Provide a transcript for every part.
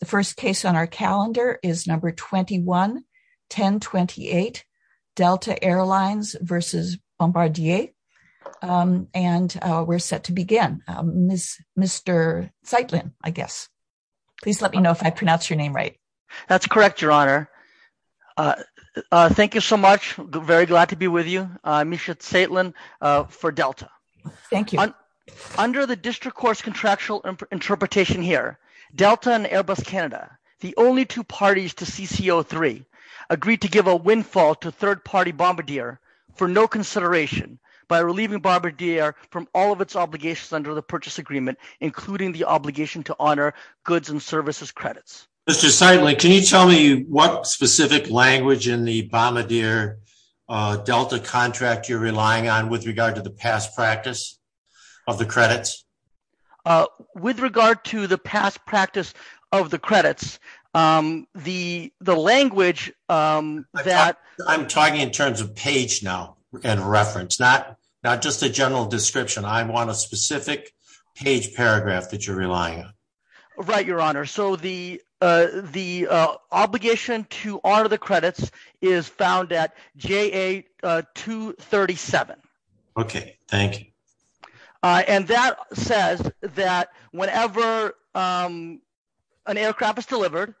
The first case on our calendar is No. 21-1028, Delta Air Lines v. Bombardier. And we're set to begin. Mr. Zeitlin, I guess. Please let me know if I pronounce your name right. That's correct, Your Honor. Thank you so much. Very glad to be with you. Misha Zeitlin for Delta. Thank you. Under the district court's contractual interpretation here, Delta and Airbus Canada, the only two parties to CCO3, agreed to give a windfall to third-party Bombardier for no consideration by relieving Bombardier from all of its obligations under the purchase agreement, including the obligation to honor goods and services credits. Mr. Zeitlin, can you tell me what specific language in the Bombardier Delta contract you're relying on with regard to the past practice of the credits? With regard to the past practice of the credits, the language that – I'm talking in terms of page now and reference, not just a general description. I want a specific page paragraph that you're relying on. Right, Your Honor. So the obligation to honor the credits is found at JA237. Okay, thank you. And that says that whenever an aircraft is delivered,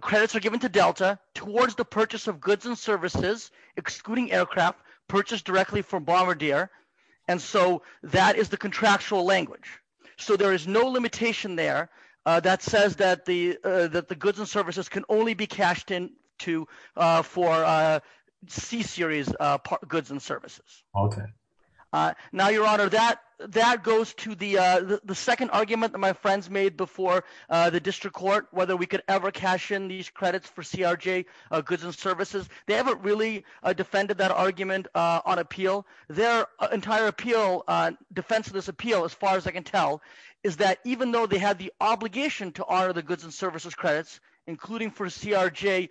credits are given to Delta towards the purchase of goods and services, excluding aircraft purchased directly from Bombardier, and so that is the contractual language. So there is no limitation there that says that the goods and services can only be cashed in for C-series goods and services. Okay. Now, Your Honor, that goes to the second argument that my friends made before the district court, whether we could ever cash in these credits for CRJ goods and services. They haven't really defended that argument on appeal. Their entire appeal, defense of this appeal as far as I can tell, is that even though they had the obligation to honor the goods and services credits, including for CRJ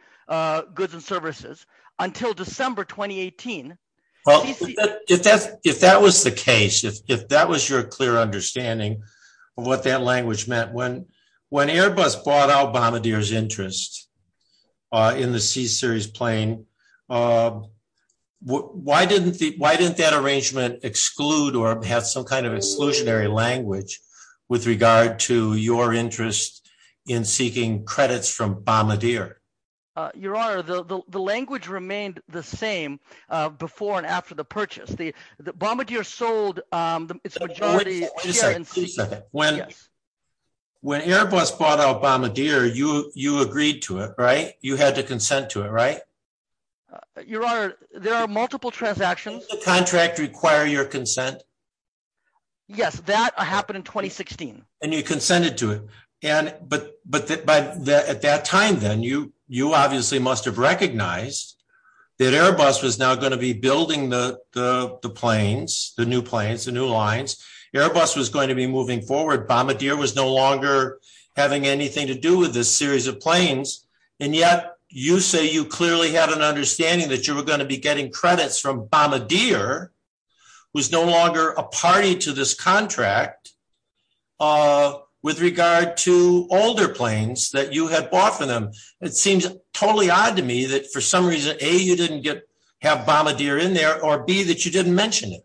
goods and services, until December 2018. Well, if that was the case, if that was your clear understanding of what that language meant, when Airbus bought out Bombardier's interest in the C-series plane, why didn't that arrangement exclude or have some kind of exclusionary language with regard to your interest in seeking credits from Bombardier? Your Honor, the language remained the same before and after the purchase. When Airbus bought out Bombardier, you agreed to it, right? You had to consent to it, right? Your Honor, there are multiple transactions. Didn't the contract require your consent? Yes, that happened in 2016. And you consented to it. But at that time, then, you obviously must have recognized that Airbus was now going to be building the planes, the new planes, the new lines. Airbus was going to be moving forward. Bombardier was no longer having anything to do with this series of planes. And yet, you say you clearly had an understanding that you were going to be getting credits from Bombardier, was no longer a party to this contract with regard to older planes that you had bought for them. It seems totally odd to me that for some reason, A, you didn't have Bombardier in there, or B, that you didn't mention it.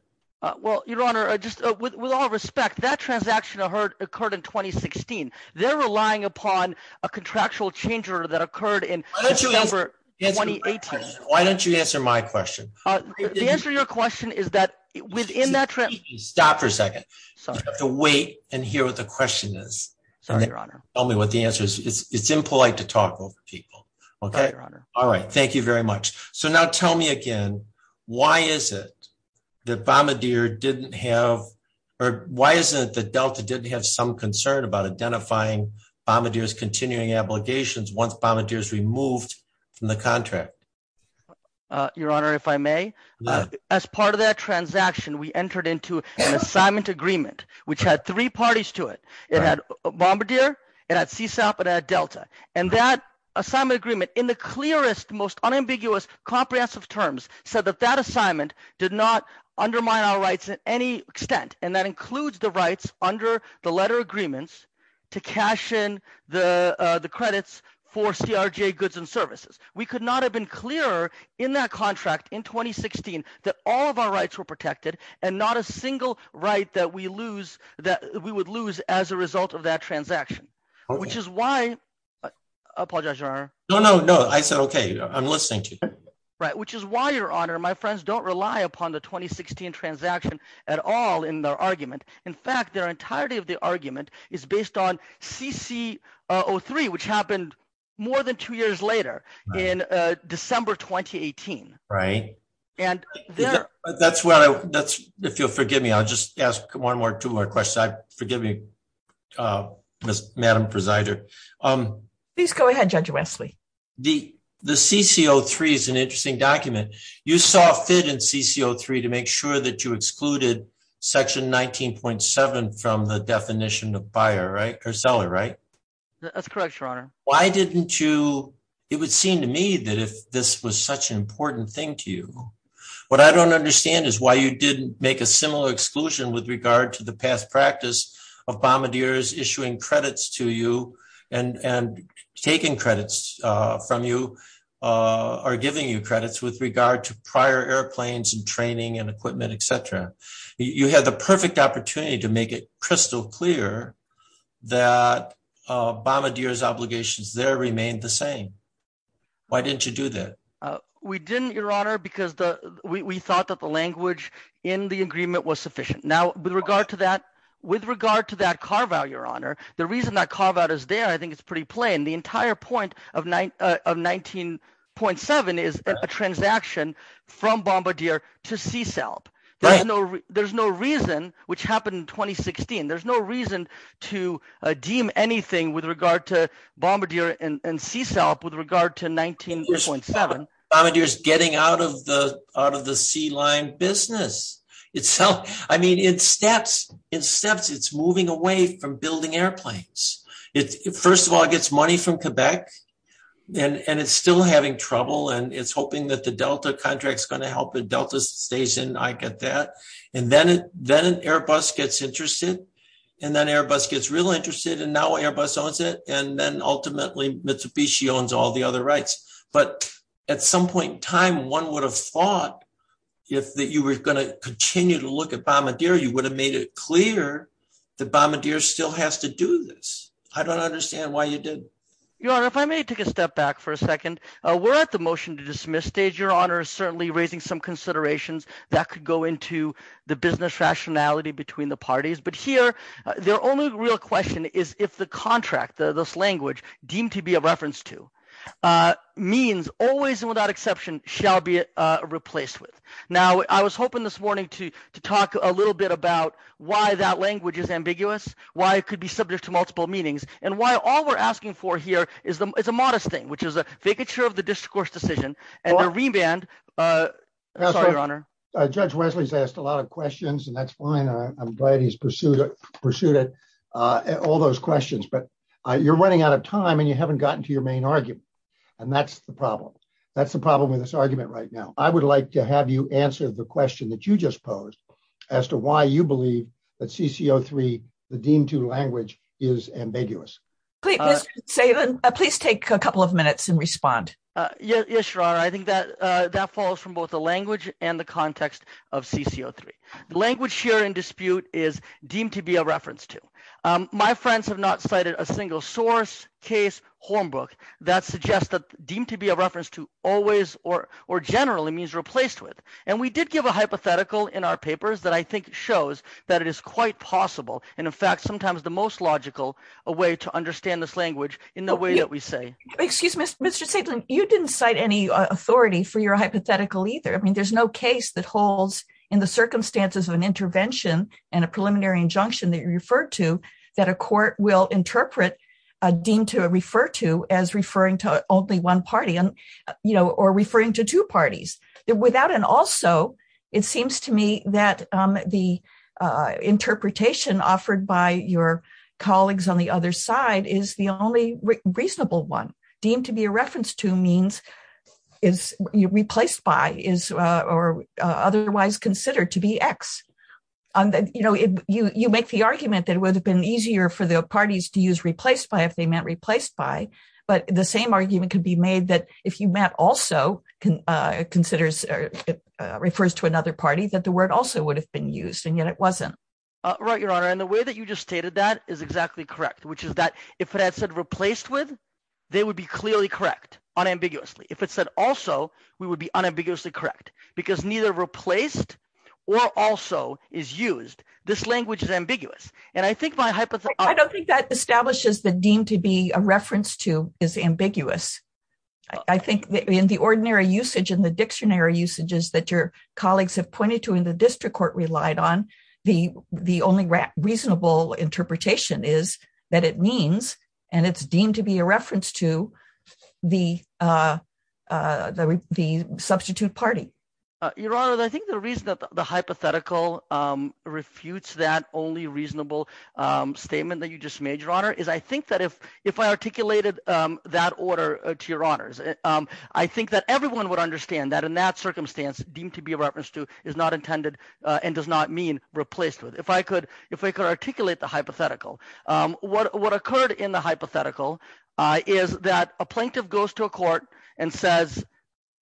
Well, Your Honor, just with all respect, that transaction occurred in 2016. They're relying upon a contractual change order that occurred in December 2018. Why don't you answer my question? The answer to your question is that within that— Stop for a second. Sorry. You have to wait and hear what the question is. Sorry, Your Honor. Tell me what the answer is. It's impolite to talk over people. Okay? All right. Thank you very much. So now tell me again, why is it that Bombardier didn't have—or why is it that Delta didn't have some concern about identifying Bombardier's continuing obligations once Bombardier is removed from the contract? Your Honor, if I may, as part of that transaction, we entered into an assignment agreement, which had three parties to it. It had Bombardier. It had CSAP. It had Delta. And that assignment agreement, in the clearest, most unambiguous, comprehensive terms, said that that assignment did not undermine our rights in any extent. And that includes the rights under the letter agreements to cash in the credits for CRJ goods and services. We could not have been clearer in that contract in 2016 that all of our rights were protected and not a single right that we lose—that we would lose as a result of that transaction, which is why— I apologize, Your Honor. No, no, no. I said okay. I'm listening to you. Right, which is why, Your Honor, my friends don't rely upon the 2016 transaction at all in their argument. In fact, their entirety of the argument is based on CCO3, which happened more than two years later in December 2018. Right. And their— That's what I—if you'll forgive me, I'll just ask one more, two more questions. Forgive me, Madam Presiding. Please go ahead, Judge Wesley. The CCO3 is an interesting document. You saw fit in CCO3 to make sure that you excluded Section 19.7 from the definition of buyer, right, or seller, right? That's correct, Your Honor. Why didn't you—it would seem to me that if this was such an important thing to you. What I don't understand is why you didn't make a similar exclusion with regard to the past practice of bombardiers issuing credits to you and taking credits from you or giving you credits with regard to prior airplanes and training and equipment, et cetera. You had the perfect opportunity to make it crystal clear that bombardiers' obligations there remained the same. Why didn't you do that? We didn't, Your Honor, because we thought that the language in the agreement was sufficient. Now, with regard to that carve-out, Your Honor, the reason that carve-out is there I think is pretty plain. The entire point of 19.7 is a transaction from bombardier to CSALP. There's no reason, which happened in 2016. There's no reason to deem anything with regard to bombardier and CSALP with regard to 19.7. Bombardier is getting out of the sea line business. I mean, in steps, it's moving away from building airplanes. First of all, it gets money from Quebec, and it's still having trouble, and it's hoping that the Delta contract is going to help it. Delta stays in. I get that. And then Airbus gets interested, and then Airbus gets real interested, and now Airbus owns it, and then ultimately Mitsubishi owns all the other rights. But at some point in time, one would have thought if you were going to continue to look at bombardier, you would have made it clear that bombardier still has to do this. I don't understand why you did. Your Honor, if I may take a step back for a second. We're at the motion to dismiss stage. Your Honor is certainly raising some considerations that could go into the business rationality between the parties. But here the only real question is if the contract, this language deemed to be a reference to, means always and without exception shall be replaced with. Now, I was hoping this morning to talk a little bit about why that language is ambiguous, why it could be subject to multiple meanings, and why all we're asking for here is a modest thing… There's a vacature of the discourse decision, and a remand… Sorry, Your Honor. Judge Wesley's asked a lot of questions, and that's fine. I'm glad he's pursued it, all those questions. But you're running out of time, and you haven't gotten to your main argument. And that's the problem. That's the problem with this argument right now. I would like to have you answer the question that you just posed as to why you believe that CCO3, the deemed to language, is ambiguous. Please take a couple of minutes and respond. Yes, Your Honor. I think that follows from both the language and the context of CCO3. The language here in dispute is deemed to be a reference to. My friends have not cited a single source, case, hornbook that suggests that deemed to be a reference to always or generally means replaced with. And we did give a hypothetical in our papers that I think shows that it is quite possible and, in fact, sometimes the most logical way to understand this language in the way that we say. Excuse me, Mr. Stiglitz. You didn't cite any authority for your hypothetical either. I mean there's no case that holds in the circumstances of an intervention and a preliminary injunction that you referred to that a court will interpret deemed to refer to as referring to only one party or referring to two parties. Without an also, it seems to me that the interpretation offered by your colleagues on the other side is the only reasonable one. Deemed to be a reference to means is replaced by is or otherwise considered to be X. You make the argument that it would have been easier for the parties to use replaced by if they meant replaced by, but the same argument could be made that if you meant also considers – refers to another party, that the word also would have been used, and yet it wasn't. Right, Your Honor, and the way that you just stated that is exactly correct, which is that if it had said replaced with, they would be clearly correct unambiguously. If it said also, we would be unambiguously correct because neither replaced or also is used. This language is ambiguous, and I think my hypothesis – I don't think that establishes that deemed to be a reference to is ambiguous. I think in the ordinary usage and the dictionary usages that your colleagues have pointed to in the district court relied on, the only reasonable interpretation is that it means, and it's deemed to be a reference to, the substitute party. Your Honor, I think the reason that the hypothetical refutes that only reasonable statement that you just made, Your Honor, is I think that if I articulated that order to Your Honors, I think that everyone would understand that in that circumstance, deemed to be a reference to is not intended and does not mean replaced with. If I could articulate the hypothetical, what occurred in the hypothetical is that a plaintiff goes to a court and says…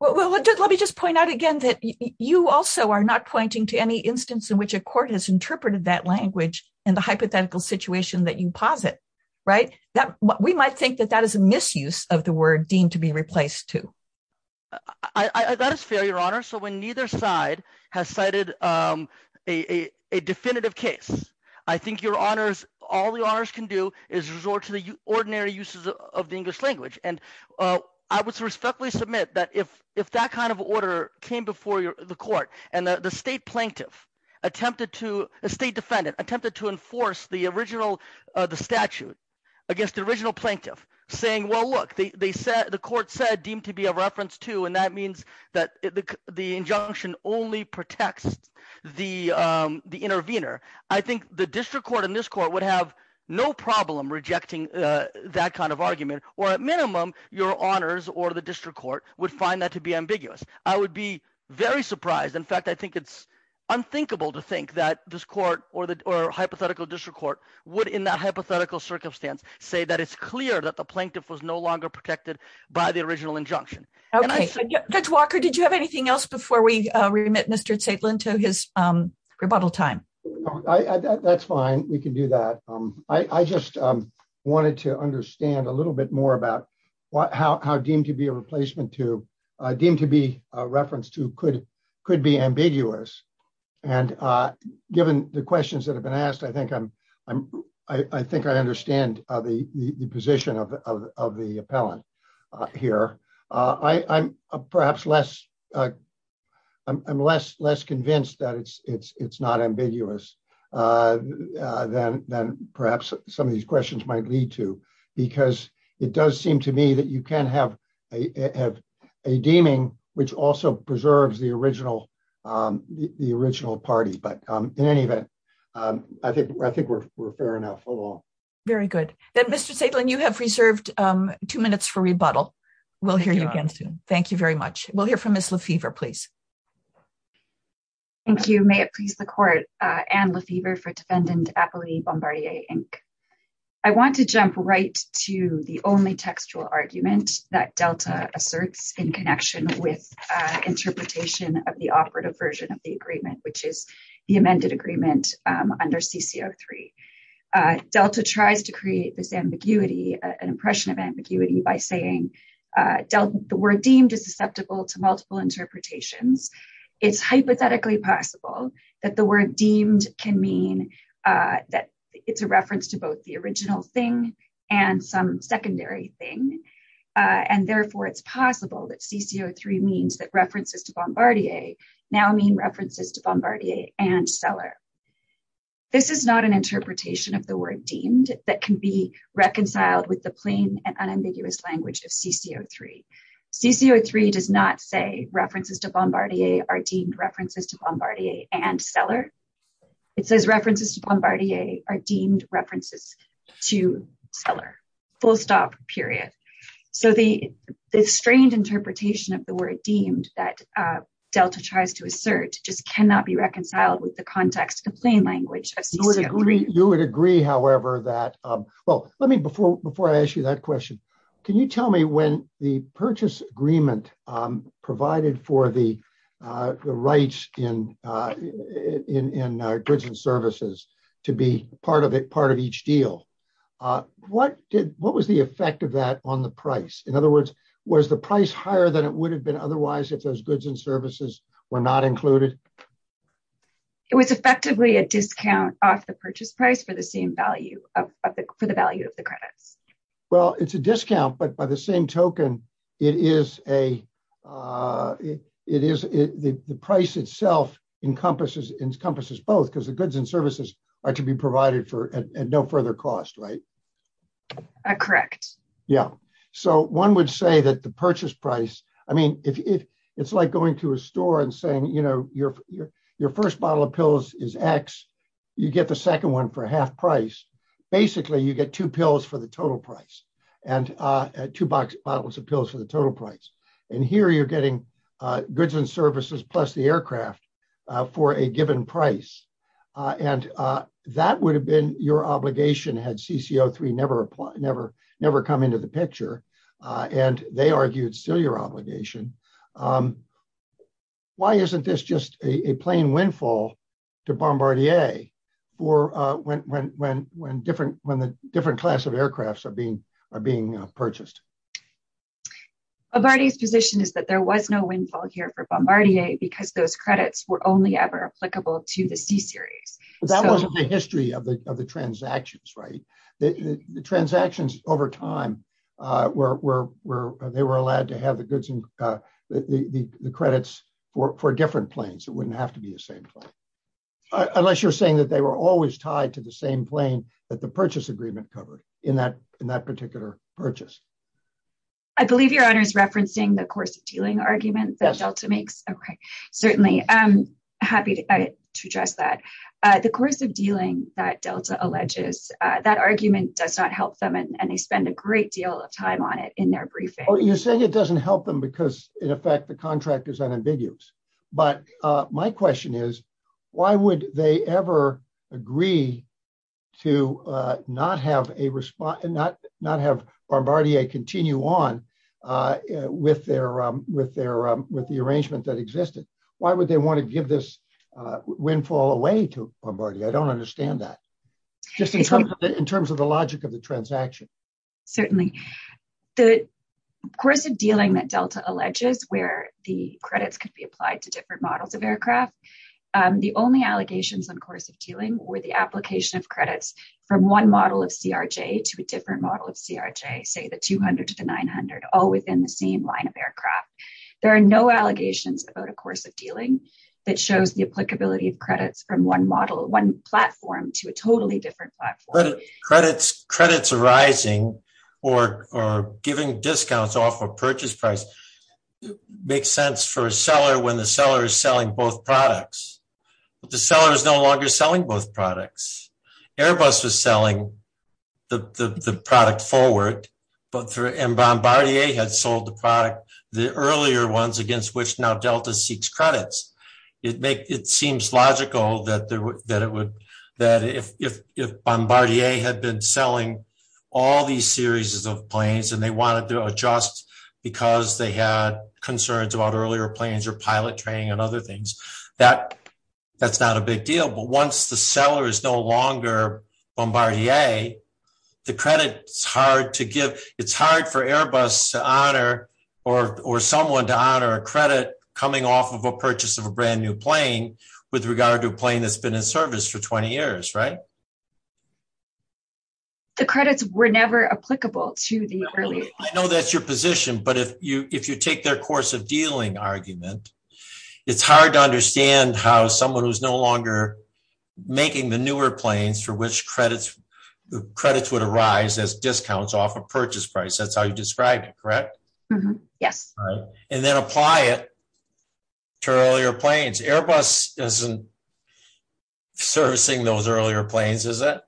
Well, let me just point out again that you also are not pointing to any instance in which a court has interpreted that language in the hypothetical situation that you posit, right? We might think that that is a misuse of the word deemed to be replaced to. That is fair, Your Honor. So when neither side has cited a definitive case, I think Your Honors, all Your Honors can do is resort to the ordinary uses of the English language. And I would respectfully submit that if that kind of order came before the court and the state plaintiff attempted to – state defendant attempted to enforce the original statute against the original plaintiff saying, well, look. The court said deemed to be a reference to, and that means that the injunction only protects the intervener. I think the district court and this court would have no problem rejecting that kind of argument, or at minimum, Your Honors or the district court would find that to be ambiguous. I would be very surprised. In fact, I think it's unthinkable to think that this court or hypothetical district court would, in that hypothetical circumstance, say that it's clear that the plaintiff was no longer protected by the original injunction. Judge Walker, did you have anything else before we remit Mr. Zaitlin to his rebuttal time? That's fine. We can do that. I just wanted to understand a little bit more about how deemed to be a replacement to, deemed to be a reference to could be ambiguous. And given the questions that have been asked, I think I understand the position of the appellant here. I'm perhaps less – I'm less convinced that it's not ambiguous than perhaps some of these questions might lead to. Because it does seem to me that you can have a deeming which also preserves the original party. But in any event, I think we're fair enough overall. Very good. Then Mr. Zaitlin, you have reserved two minutes for rebuttal. We'll hear you again soon. Thank you very much. We'll hear from Ms. Lefevre, please. Thank you. May it please the court. Anne Lefevre for Defendant Appellee Bombardier, Inc. I want to jump right to the only textual argument that Delta asserts in connection with interpretation of the operative version of the agreement, which is the amended agreement under CC03. Delta tries to create this ambiguity, an impression of ambiguity, by saying the word deemed is susceptible to multiple interpretations. It's hypothetically possible that the word deemed can mean that it's a reference to both the original thing and some secondary thing. And therefore, it's possible that CC03 means that references to Bombardier now mean references to Bombardier and Seller. This is not an interpretation of the word deemed that can be reconciled with the plain and unambiguous language of CC03. CC03 does not say references to Bombardier are deemed references to Bombardier and Seller. It says references to Bombardier are deemed references to Seller. Full stop, period. So the strained interpretation of the word deemed that Delta tries to assert just cannot be reconciled with the context of plain language of CC03. You would agree, however, that, well, let me before I ask you that question, can you tell me when the purchase agreement provided for the rights in goods and services to be part of each deal, what was the effect of that on the price? In other words, was the price higher than it would have been otherwise if those goods and services were not included? It was effectively a discount off the purchase price for the same value, for the value of the credits. Well, it's a discount, but by the same token, the price itself encompasses both because the goods and services are to be provided at no further cost, right? Correct. Yeah. So one would say that the purchase price, I mean, it's like going to a store and saying, you know, your first bottle of pills is X, you get the second one for half price. Basically, you get two pills for the total price and two bottles of pills for the total price. And here you're getting goods and services plus the aircraft for a given price. And that would have been your obligation had CC03 never come into the picture. And they argued still your obligation. Why isn't this just a plain windfall to Bombardier when the different class of aircrafts are being purchased? Bombardier's position is that there was no windfall here for Bombardier because those credits were only ever applicable to the C series. That wasn't the history of the transactions, right? The transactions over time where they were allowed to have the goods and the credits for different planes. It wouldn't have to be the same plane. Unless you're saying that they were always tied to the same plane that the purchase agreement covered in that particular purchase. I believe your honor is referencing the course of dealing argument that Delta makes. Certainly, I'm happy to address that. The course of dealing that Delta alleges that argument does not help them. And they spend a great deal of time on it in their briefing. You're saying it doesn't help them because, in effect, the contract is unambiguous. But my question is, why would they ever agree to not have Bombardier continue on with the arrangement that existed? Why would they want to give this windfall away to Bombardier? I don't understand that. Just in terms of the logic of the transaction. Certainly. The course of dealing that Delta alleges where the credits could be applied to different models of aircraft. The only allegations on course of dealing were the application of credits from one model of CRJ to a different model of CRJ, say the 200 to the 900, all within the same line of aircraft. There are no allegations about a course of dealing that shows the applicability of credits from one model, one platform to a totally different platform. Credits arising or giving discounts off a purchase price makes sense for a seller when the seller is selling both products. But the seller is no longer selling both products. Airbus was selling the product forward, and Bombardier had sold the product, the earlier ones, against which now Delta seeks credits. It seems logical that if Bombardier had been selling all these series of planes and they wanted to adjust because they had concerns about earlier planes or pilot training and other things, that's not a big deal. But once the seller is no longer Bombardier, the credit is hard to give. It's hard for Airbus to honor or someone to honor a credit coming off of a purchase of a brand new plane with regard to a plane that's been in service for 20 years, right? The credits were never applicable to the early. I know that's your position, but if you take their course of dealing argument, it's hard to understand how someone who's no longer making the newer planes for which credits would arise as discounts off a purchase price. That's how you describe it, correct? Yes. And then apply it to earlier planes. Airbus isn't servicing those earlier planes, is it?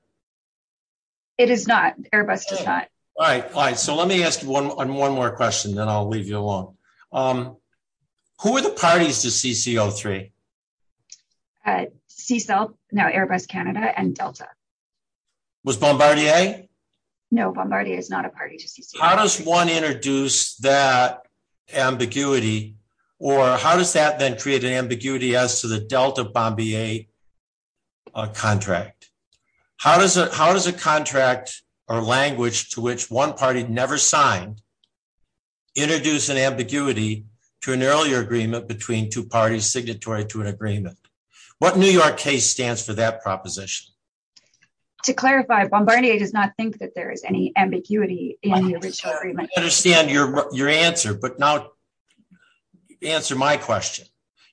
It is not. Airbus does not. All right. All right. So let me ask you one more question, then I'll leave you alone. Who are the parties to CCO-3? CECEL, now Airbus Canada, and Delta. Was Bombardier? No, Bombardier is not a party to CCO-3. How does one introduce that ambiguity, or how does that then create an ambiguity as to the Delta-Bombardier contract? How does a contract or language to which one party never signed introduce an ambiguity to an earlier agreement between two parties signatory to an agreement? What New York case stands for that proposition? To clarify, Bombardier does not think that there is any ambiguity in the original agreement. I understand your answer, but now answer my question.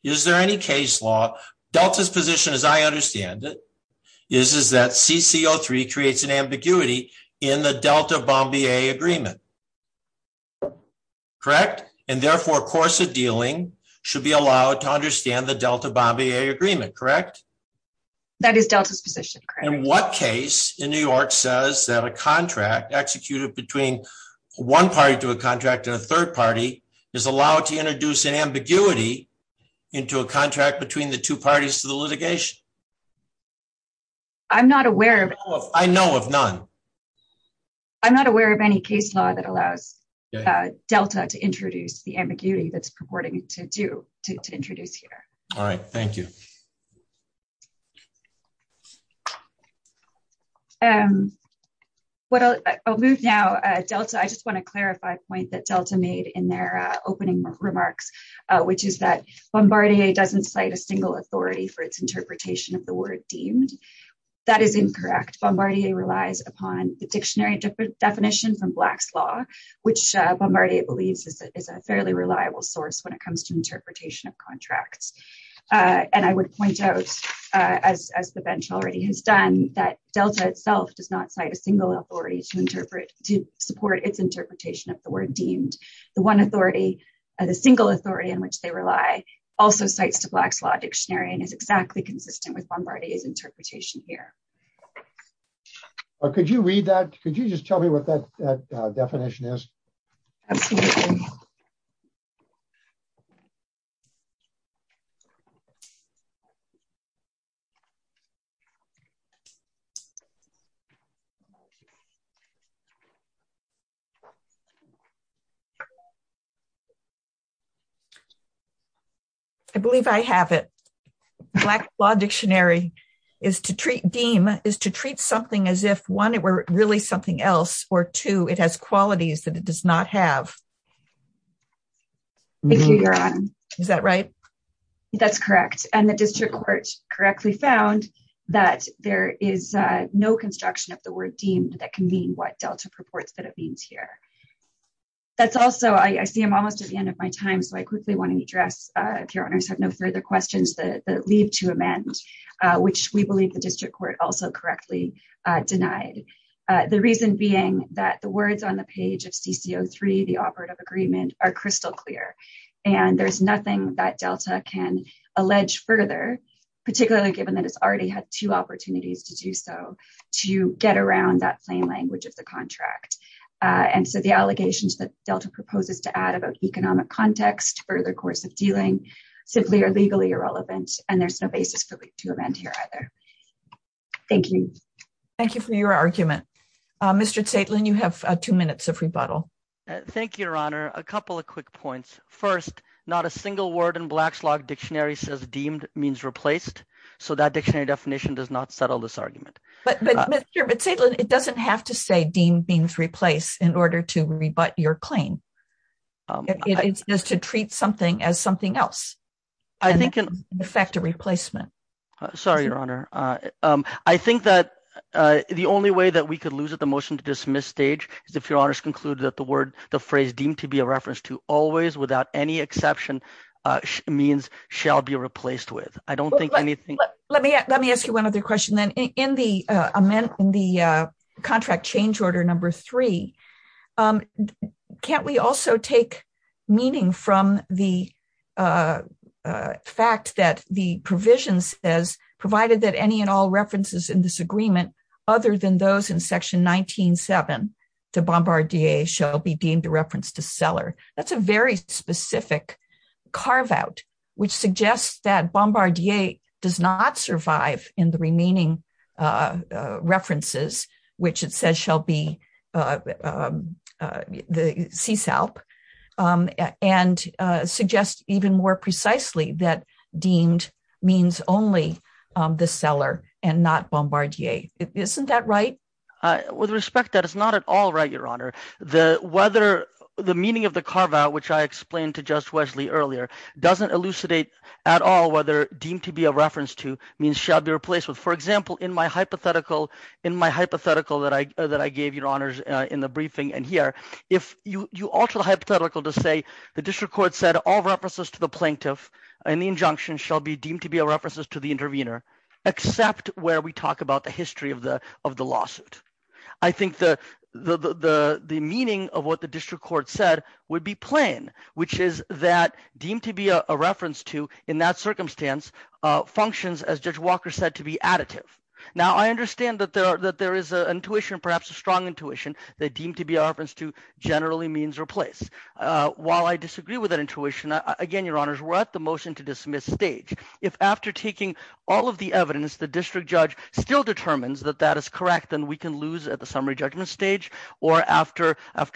Is there any case law, Delta's position as I understand it, is that CCO-3 creates an ambiguity in the Delta-Bombardier agreement, correct? And therefore, a course of dealing should be allowed to understand the Delta-Bombardier agreement, correct? That is Delta's position, correct. And what case in New York says that a contract executed between one party to a contract to a third party is allowed to introduce an ambiguity into a contract between the two parties to the litigation? I'm not aware of... I know of none. I'm not aware of any case law that allows Delta to introduce the ambiguity that's purporting to do, to introduce here. All right, thank you. I'll move now, Delta, I just want to clarify a point that Delta made in their opening remarks, which is that Bombardier doesn't cite a single authority for its interpretation of the word deemed. That is incorrect. Bombardier relies upon the dictionary definition from Black's Law, which Bombardier believes is a fairly reliable source when it comes to interpretation of contracts. And I would point out, as the bench already has done, that Delta itself does not cite a single authority to interpret, to support its interpretation of the word deemed. The one authority, the single authority in which they rely, also cites the Black's Law dictionary and is exactly consistent with Bombardier's interpretation here. Could you read that? Could you just tell me what that definition is? Absolutely. I believe I have it. Black's Law dictionary is to treat, deem, is to treat something as if, one, it were really something else, or two, it has qualities that it does not have. Is that right? That's correct. And the district court correctly found that there is no construction of the word deemed that can mean what Delta purports that it means here. That's also, I see I'm almost at the end of my time, so I quickly want to address, if your owners have no further questions, the leave to amend, which we believe the district court also correctly denied. The reason being that the words on the page of CCO3, the operative agreement, are crystal clear. And there's nothing that Delta can allege further, particularly given that it's already had two opportunities to do so, to get around that plain language of the contract. And so the allegations that Delta proposes to add about economic context, further course of dealing, simply are legally irrelevant, and there's no basis for leave to amend here either. Thank you. Thank you for your argument. Mr. Zaitlin, you have two minutes of rebuttal. Thank you, Your Honor. A couple of quick points. First, not a single word in Black's Law dictionary says deemed means replaced, so that dictionary definition does not settle this argument. But, Mr. Zaitlin, it doesn't have to say deemed means replaced in order to rebut your claim. It's just to treat something as something else. I think it can affect a replacement. Sorry, Your Honor. I think that the only way that we could lose at the motion to dismiss stage is if your honors conclude that the word, the phrase deemed to be a reference to always without any exception means shall be replaced with. Let me ask you one other question then. In the contract change order number three, can't we also take meaning from the fact that the provision says, provided that any and all references in this agreement, other than those in section 19-7, the bombardier shall be deemed a reference to seller. That's a very specific carve out, which suggests that bombardier does not survive in the remaining references, which it says shall be the CESALP, and suggests even more precisely that deemed means only the seller and not bombardier. Isn't that right? With respect to that, it's not at all right, Your Honor. The meaning of the carve out, which I explained to Judge Wesley earlier, doesn't elucidate at all whether deemed to be a reference to means shall be replaced with. For example, in my hypothetical that I gave, Your Honors, in the briefing in here, if you alter the hypothetical to say the district court said all references to the plaintiff and the injunction shall be deemed to be a reference to the intervener, except where we talk about the history of the lawsuit. I think the meaning of what the district court said would be plain, which is that deemed to be a reference to, in that circumstance, functions, as Judge Walker said, to be additive. Now, I understand that there is an intuition, perhaps a strong intuition, that deemed to be a reference to generally means replace. While I disagree with that intuition, again, Your Honors, we're at the motion to dismiss stage. If after taking all of the evidence the district judge still determines that that is correct, then we can lose at the summary judgment stage or after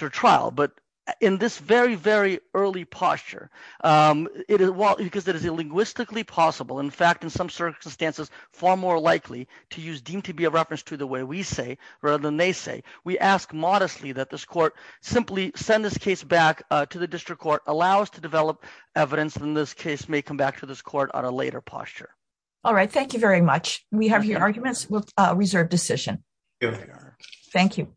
trial. But in this very, very early posture, because it is linguistically possible, in fact, in some circumstances, far more likely to use deemed to be a reference to the way we say rather than they say, we ask modestly that this court simply send this case back to the district court, allow us to develop evidence, and this case may come back to this court on a later posture. All right, thank you very much. We have here arguments with reserved decision. Thank you.